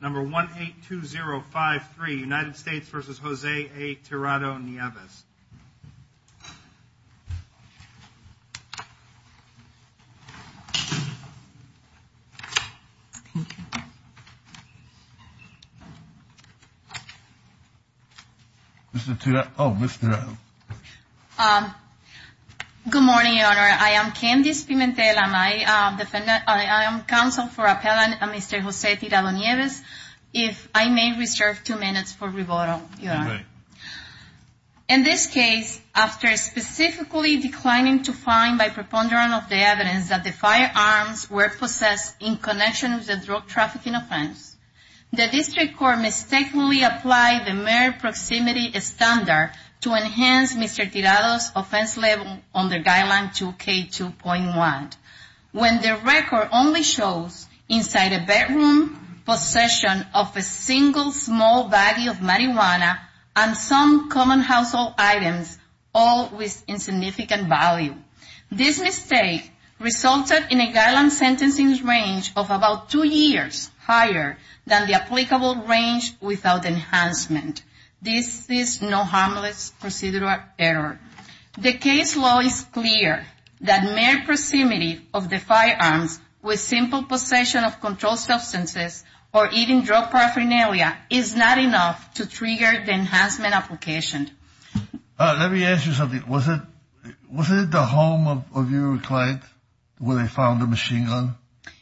Number 182053, United States v. Jose A. Tirado-Nieves. Mr. Tirado. Oh, Mr. Tirado. Good morning, Your Honor. I am Candice Pimentel. I am counsel for appellant Mr. Jose Tirado-Nieves. If I may reserve two minutes for rebuttal, Your Honor. In this case, after specifically declining to find by preponderance of the evidence that the firearms were possessed in connection with the drug trafficking offense, the district court mistakenly applied the mere proximity standard to enhance Mr. Tirado's offense level under Guideline 2K2.1, when the record only shows inside a bedroom possession of a single small baggie of marijuana and some common household items, all with insignificant value. This mistake resulted in a guideline sentencing range of about two years higher than the applicable range without enhancement. This is no harmless procedural error. The case law is clear that mere proximity of the firearms with simple possession of controlled substances or even drug paraphernalia is not enough to trigger the enhancement application. Let me ask you something. Was it the home of your client where they found the machine gun?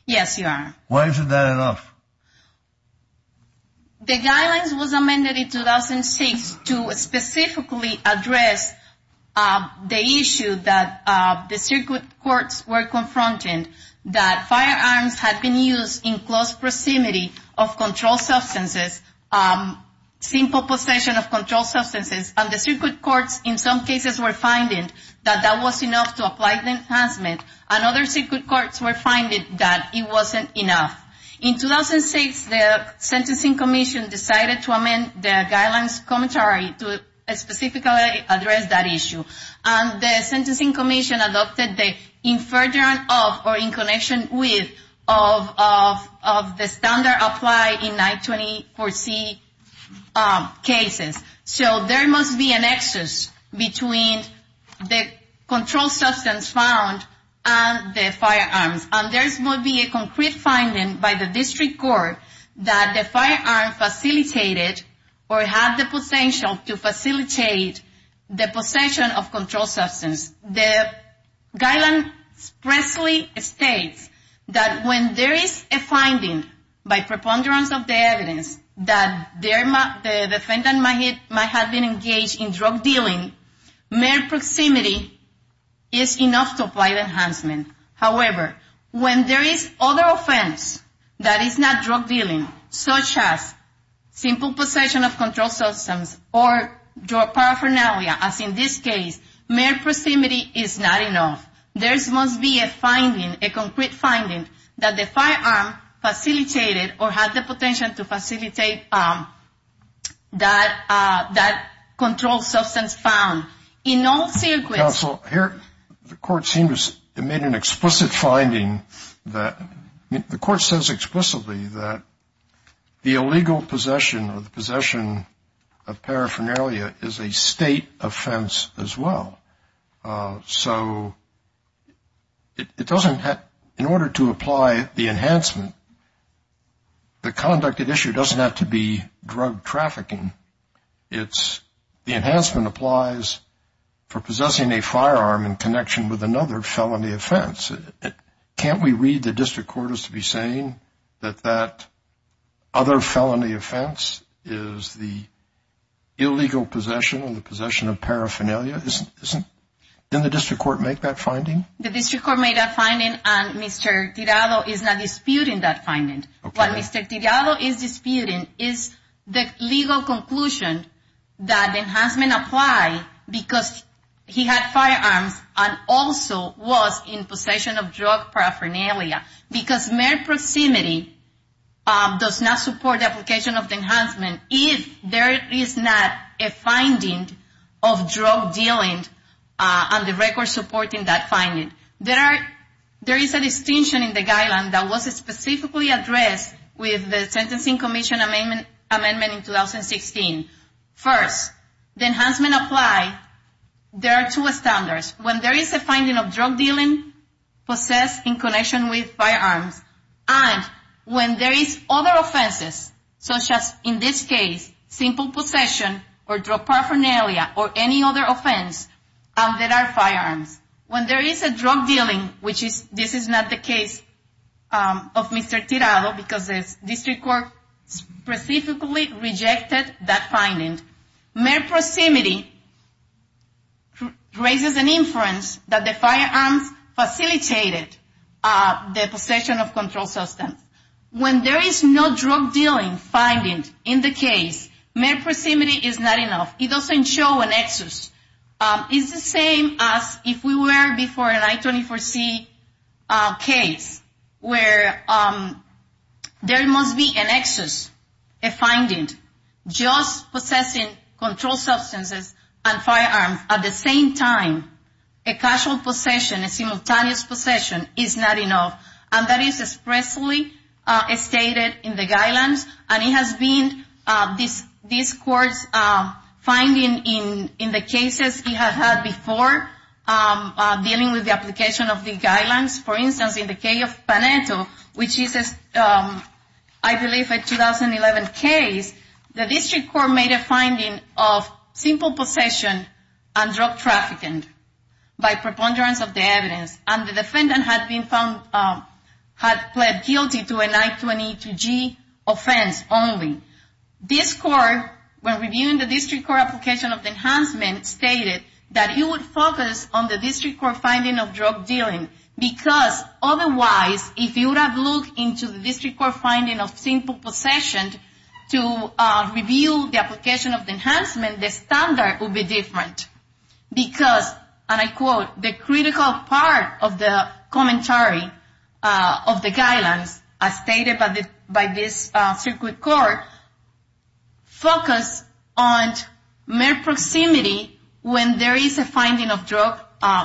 Yes, Your Honor. Why isn't that enough? The guidelines was amended in 2006 to specifically address the issue that the district courts were confronting, that firearms had been used in close proximity of controlled substances, simple possession of controlled substances, and the district courts in some cases were finding that that was enough to apply the enhancement, and other district courts were finding that it wasn't enough. In 2006, the sentencing commission decided to amend the guidelines commentary to specifically address that issue, and the sentencing commission adopted the inferiority of or in connection with the standard applied in 924C cases. So there must be a nexus between the controlled substance found and the firearms. And there must be a concrete finding by the district court that the firearm facilitated or had the potential to facilitate the possession of controlled substance. The guideline expressly states that when there is a finding by preponderance of the evidence that the defendant might have been engaged in drug dealing, mere proximity is enough to apply the enhancement. However, when there is other offense that is not drug dealing, such as simple possession of controlled substance or drug paraphernalia, as in this case, mere proximity is not enough. There must be a finding, a concrete finding, that the firearm facilitated or had the potential to facilitate that controlled substance found. Counsel, the court seems to have made an explicit finding that the court says explicitly that the illegal possession or the possession of paraphernalia is a state offense as well. So in order to apply the enhancement, the conducted issue doesn't have to be drug trafficking. The enhancement applies for possessing a firearm in connection with another felony offense. Can't we read the district court as to be saying that that other felony offense is the illegal possession or the possession of paraphernalia? Didn't the district court make that finding? The district court made that finding, and Mr. Tirado is now disputing that finding. What Mr. Tirado is disputing is the legal conclusion that the enhancement applies because he had firearms and also was in possession of drug paraphernalia, because mere proximity does not support the application of the enhancement if there is not a finding of drug dealing on the record supporting that finding. There is a distinction in the guideline that was specifically addressed with the Sentencing Commission amendment in 2016. First, the enhancement applies. There are two standards. When there is a finding of drug dealing possessed in connection with firearms, and when there is other offenses, such as in this case simple possession or drug paraphernalia or any other offense, and there are firearms. When there is a drug dealing, which this is not the case of Mr. Tirado because the district court specifically rejected that finding, mere proximity raises an inference that the firearms facilitated the possession of controlled substance. When there is no drug dealing finding in the case, mere proximity is not enough. It doesn't show an excess. It's the same as if we were before an I-24C case where there must be an excess, a finding, just possessing controlled substances and firearms at the same time. A casual possession, a simultaneous possession, is not enough. And that is expressly stated in the guidelines. And it has been this court's finding in the cases it has had before dealing with the application of the guidelines. For instance, in the case of Paneto, which is, I believe, a 2011 case, the district court made a finding of simple possession and drug trafficking by preponderance of the evidence. And the defendant had pled guilty to an I-22G offense only. This court, when reviewing the district court application of enhancement, stated that it would focus on the district court finding of drug dealing. Because otherwise, if you would have looked into the district court finding of simple possession to review the application of enhancement, the standard would be different. Because, and I quote, the critical part of the commentary of the guidelines, as stated by this circuit court, focus on mere proximity when there is a finding of drug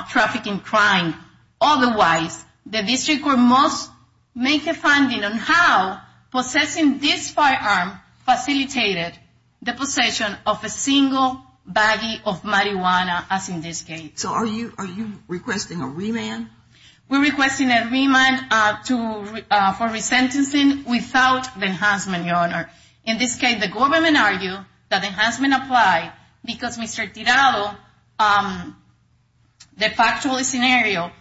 trafficking crime. Otherwise, the district court must make a finding on how possessing this firearm facilitated the possession of a single baggie of marijuana, as in this case. So are you requesting a remand? We're requesting a remand for resentencing without the enhancement, Your Honor. In this case, the government argued that enhancement applied because Mr. Tirado, the factual scenario,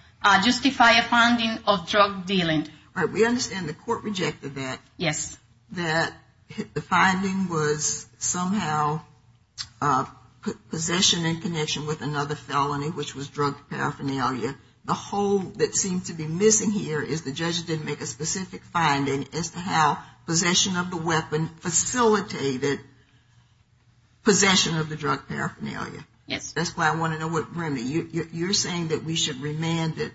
justified a finding of drug dealing. All right, we understand the court rejected that. Yes. That the finding was somehow possession in connection with another felony, which was drug paraphernalia. The hole that seems to be missing here is the judge didn't make a specific finding as to how possession of the weapon facilitated possession of the drug paraphernalia. Yes. That's why I want to know, Remy, you're saying that we should remand it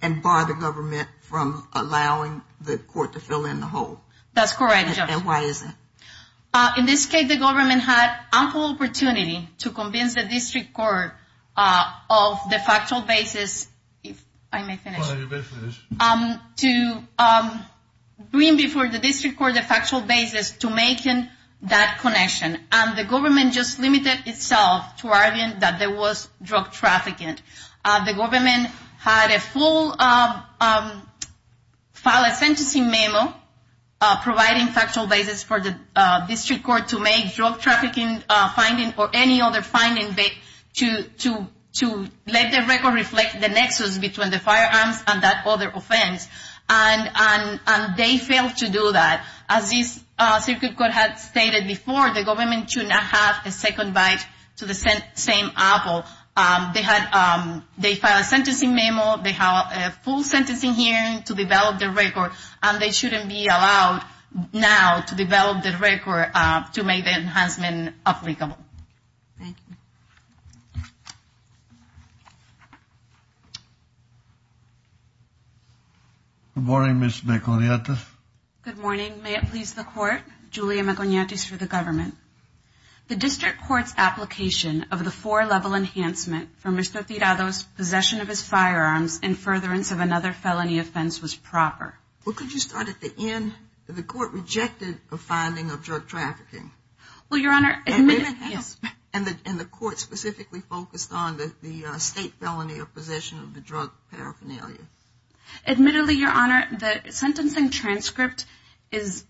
and bar the government from allowing the court to fill in the hole. That's correct, Your Honor. And why is that? In this case, the government had ample opportunity to convince the district court of the factual basis, if I may finish. You may finish. To bring before the district court the factual basis to make that connection. And the government just limited itself to arguing that there was drug trafficking. The government had a full file a sentencing memo providing factual basis for the district court to make drug trafficking finding or any other finding to let the record reflect the nexus between the firearms and that other offense. And they failed to do that. As this circuit court had stated before, the government should not have a second bite to the same apple. They filed a sentencing memo. They have a full sentencing hearing to develop the record. And they shouldn't be allowed now to develop the record to make the enhancement applicable. Thank you. Good morning, Ms. Meconiatis. Good morning. May it please the court, Julia Meconiatis for the government. The district court's application of the four-level enhancement for Mr. Tirado's possession of his firearms in furtherance of another felony offense was proper. Well, could you start at the end? The court rejected a finding of drug trafficking. Well, Your Honor, admittedly, yes. And the court specifically focused on the state felony of possession of the drug paraphernalia. Admittedly, Your Honor, the sentencing transcript is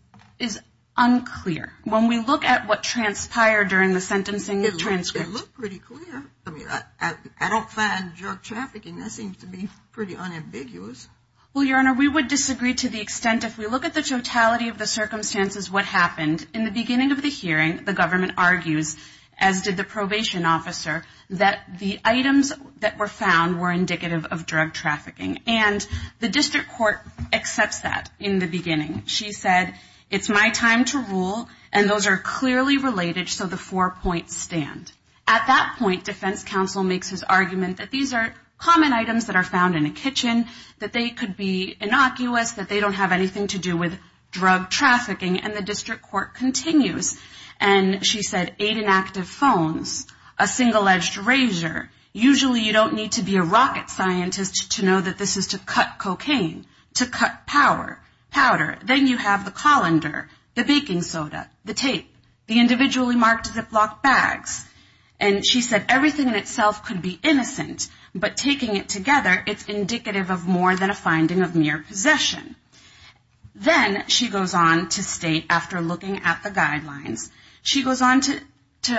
unclear. When we look at what transpired during the sentencing transcript. It looked pretty clear. I mean, I don't find drug trafficking. That seems to be pretty unambiguous. Well, Your Honor, we would disagree to the extent if we look at the totality of the circumstances what happened. In the beginning of the hearing, the government argues, as did the probation officer, that the items that were found were indicative of drug trafficking. And the district court accepts that in the beginning. She said, it's my time to rule. And those are clearly related. So the four points stand. At that point, defense counsel makes his argument that these are common items that are found in a kitchen. That they could be innocuous. That they don't have anything to do with drug trafficking. And the district court continues. And she said, eight inactive phones. A single-edged razor. Usually you don't need to be a rocket scientist to know that this is to cut cocaine. To cut power. Powder. Then you have the colander. The baking soda. The tape. The individually marked Ziploc bags. And she said, everything in itself could be innocent. But taking it together, it's indicative of more than a finding of mere possession. Then she goes on to state, after looking at the guidelines. She goes on to,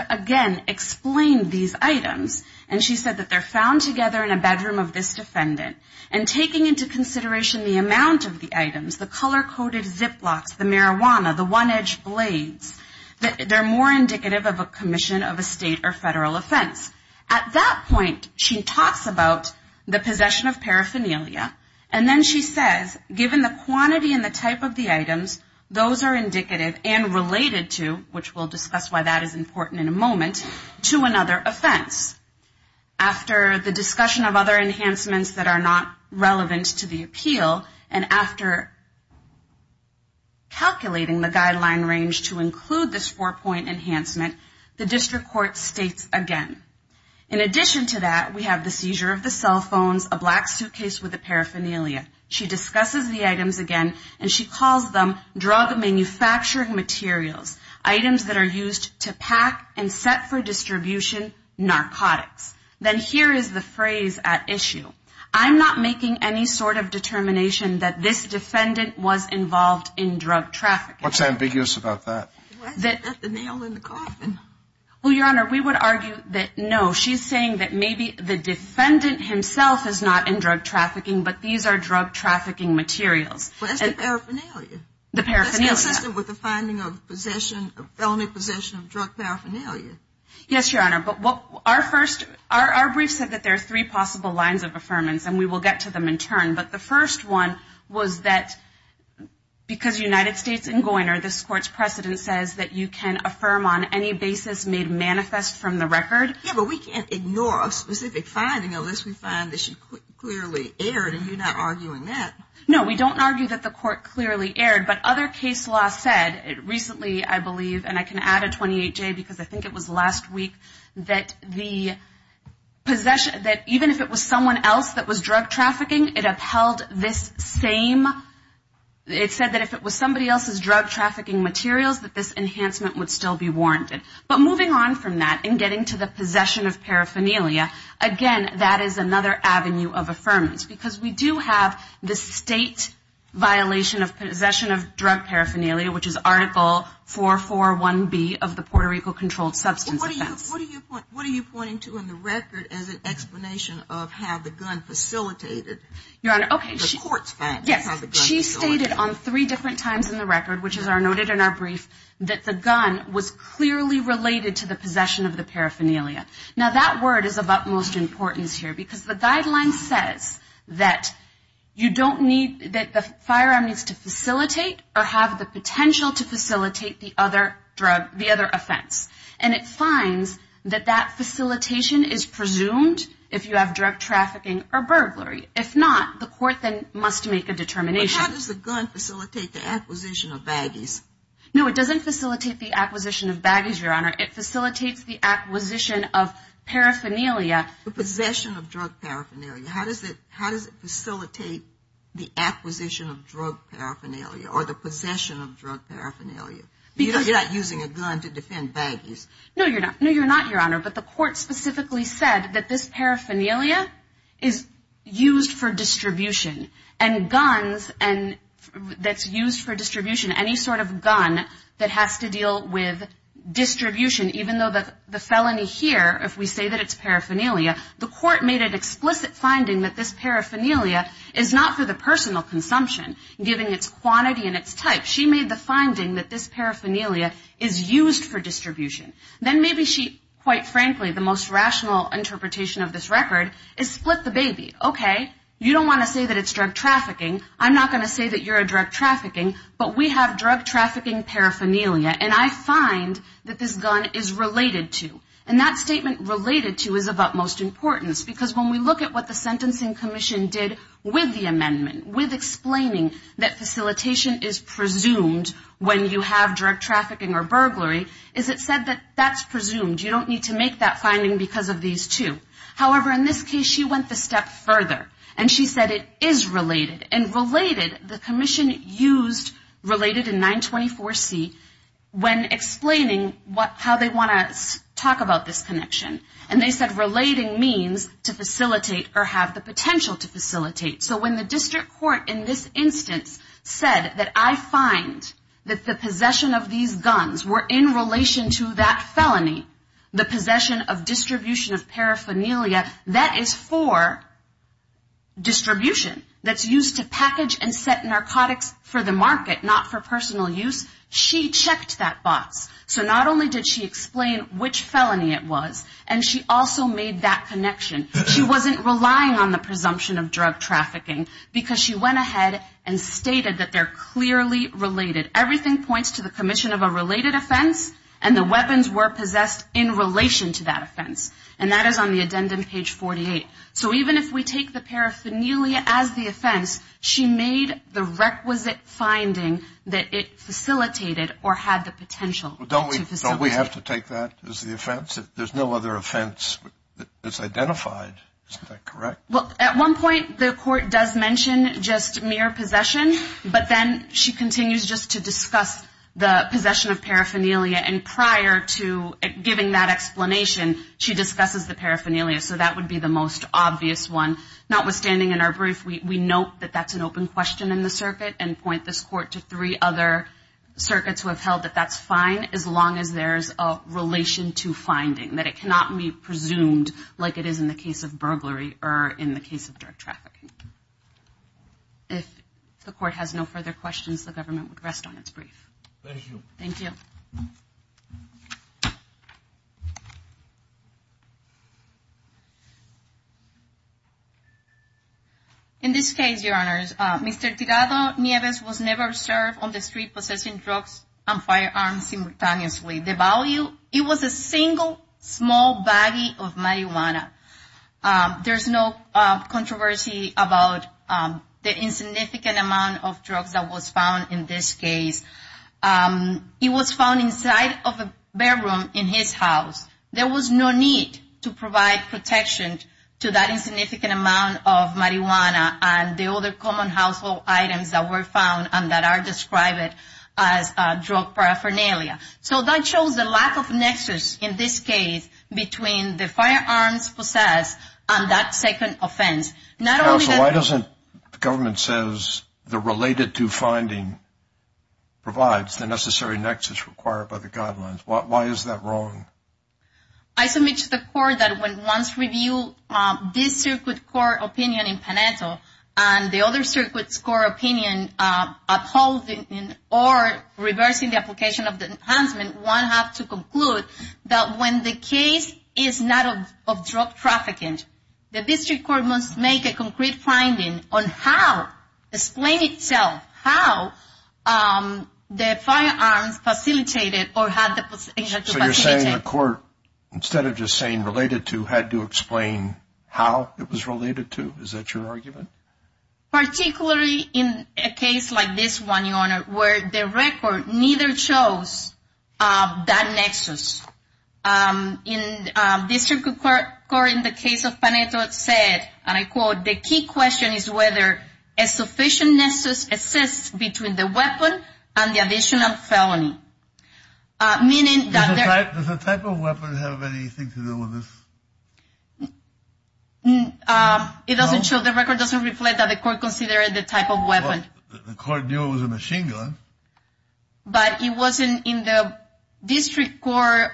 again, explain these items. And she said that they're found together in a bedroom of this defendant. And taking into consideration the amount of the items. The color-coded Ziplocs. The marijuana. The one-edged blades. They're more indicative of a commission of a state or federal offense. At that point, she talks about the possession of paraphernalia. And then she says, given the quantity and the type of the items. Those are indicative and related to, which we'll discuss why that is important in a moment. To another offense. After the discussion of other enhancements that are not relevant to the appeal. And after calculating the guideline range to include this four-point enhancement. The district court states again. In addition to that, we have the seizure of the cell phones. A black suitcase with a paraphernalia. She discusses the items again. And she calls them drug manufacturing materials. Items that are used to pack and set for distribution narcotics. Then here is the phrase at issue. I'm not making any sort of determination that this defendant was involved in drug trafficking. What's ambiguous about that? The nail in the coffin. Well, Your Honor, we would argue that, no. She's saying that maybe the defendant himself is not in drug trafficking. But these are drug trafficking materials. Well, that's the paraphernalia. The paraphernalia. That's consistent with the finding of possession. Felony possession of drug paraphernalia. Yes, Your Honor. But our brief said that there are three possible lines of affirmance. And we will get to them in turn. But the first one was that because United States and Goyner. This court's precedent says that you can affirm on any basis made manifest from the record. Yes, but we can't ignore a specific finding of this. We find that she clearly erred, and you're not arguing that. No, we don't argue that the court clearly erred. But other case law said recently, I believe, and I can add a 28-J because I think it was last week, that even if it was someone else that was drug trafficking, it upheld this same. It said that if it was somebody else's drug trafficking materials, that this enhancement would still be warranted. But moving on from that and getting to the possession of paraphernalia, again, that is another avenue of affirmance because we do have the state violation of possession of drug paraphernalia, which is Article 441B of the Puerto Rico Controlled Substance Offense. What are you pointing to in the record as an explanation of how the gun facilitated the court's finding? Yes, she stated on three different times in the record, which is noted in our brief, that the gun was clearly related to the possession of the paraphernalia. Now, that word is of utmost importance here because the guideline says that you don't need, that the firearm needs to facilitate or have the potential to facilitate the other drug, the other offense. And it finds that that facilitation is presumed if you have drug trafficking or burglary. If not, the court then must make a determination. But how does the gun facilitate the acquisition of baggies? No, it doesn't facilitate the acquisition of baggies, Your Honor. It facilitates the acquisition of paraphernalia. The possession of drug paraphernalia. How does it facilitate the acquisition of drug paraphernalia or the possession of drug paraphernalia? Because you're not using a gun to defend baggies. No, you're not, Your Honor. But the court specifically said that this paraphernalia is used for distribution. And guns that's used for distribution, any sort of gun that has to deal with distribution, even though the felony here, if we say that it's paraphernalia, the court made an explicit finding that this paraphernalia is not for the personal consumption, given its quantity and its type. She made the finding that this paraphernalia is used for distribution. Then maybe she, quite frankly, the most rational interpretation of this record, is split the baby. Okay, you don't want to say that it's drug trafficking. I'm not going to say that you're a drug trafficking, but we have drug trafficking paraphernalia, and I find that this gun is related to. And that statement related to is of utmost importance, because when we look at what the Sentencing Commission did with the amendment, with explaining that facilitation is presumed when you have drug trafficking or burglary, is it said that that's presumed. You don't need to make that finding because of these two. However, in this case, she went a step further, and she said it is related. And related, the commission used related in 924C when explaining how they want to talk about this connection. And they said relating means to facilitate or have the potential to facilitate. So when the district court in this instance said that I find that the possession of these guns were in relation to that felony, the possession of distribution of paraphernalia, that is for distribution. That's used to package and set narcotics for the market, not for personal use. She checked that box. So not only did she explain which felony it was, and she also made that connection. She wasn't relying on the presumption of drug trafficking, because she went ahead and stated that they're clearly related. Everything points to the commission of a related offense, and the weapons were possessed in relation to that offense. And that is on the addendum page 48. So even if we take the paraphernalia as the offense, she made the requisite finding that it facilitated or had the potential to facilitate. Don't we have to take that as the offense? There's no other offense that's identified. Isn't that correct? Well, at one point, the court does mention just mere possession, but then she continues just to discuss the possession of paraphernalia, and prior to giving that explanation, she discusses the paraphernalia. So that would be the most obvious one. Notwithstanding in our brief, we note that that's an open question in the circuit and point this court to three other circuits who have held that that's fine as long as there's a relation to finding, that it cannot be presumed like it is in the case of burglary or in the case of drug trafficking. If the court has no further questions, the government would rest on its brief. Thank you. Thank you. In this case, Your Honors, Mr. Tigado Nieves was never served on the street possessing drugs and firearms simultaneously. The value, it was a single, small baggie of marijuana. There's no controversy about the insignificant amount of drugs that was found in this case. It was found inside of a bedroom in his house. There was no need to provide protection to that insignificant amount of marijuana and the other common household items that were found and that are described as drug paraphernalia. So that shows the lack of nexus in this case between the firearms possessed and that second offense. Counsel, why doesn't the government says the related to finding provides the necessary nexus required by the guidelines? Why is that wrong? I submit to the court that when one's review this circuit court opinion in Paneto and the other circuit's court opinion upholding or reversing the application of the enhancement, one has to conclude that when the case is not of drug trafficking, the district court must make a concrete finding on how, explain itself, how the firearms facilitated or had the facility. So you're saying the court, instead of just saying related to, had to explain how it was related to? Is that your argument? Particularly in a case like this one, Your Honor, where the record neither shows that nexus. In this circuit court, in the case of Paneto, it said, and I quote, the key question is whether a sufficient nexus exists between the weapon and the additional felony. Does the type of weapon have anything to do with this? It doesn't show, the record doesn't reflect that the court considered the type of weapon. The court knew it was a machine gun. But it wasn't in the district court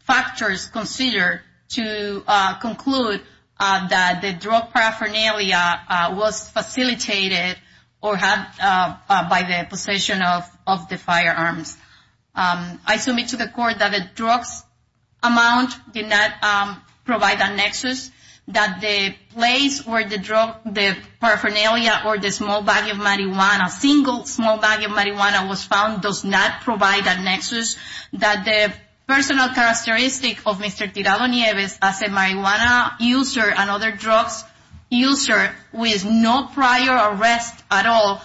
factors considered to conclude that the drug paraphernalia was facilitated or had by the possession of the firearms. I submit to the court that the drugs amount did not provide a nexus, that the place where the paraphernalia or the small bag of marijuana, a single small bag of marijuana was found, does not provide a nexus, that the personal characteristic of Mr. Tirado Nieves as a marijuana user and other drugs user with no prior arrest at all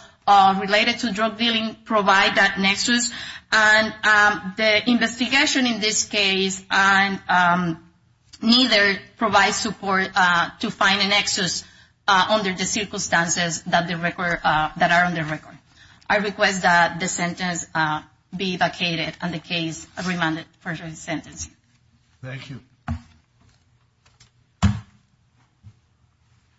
related to drug dealing provide that nexus. And the investigation in this case neither provides support to find a nexus under the circumstances that are on the record. I request that the sentence be vacated on the case of remanded for the sentence. Thank you.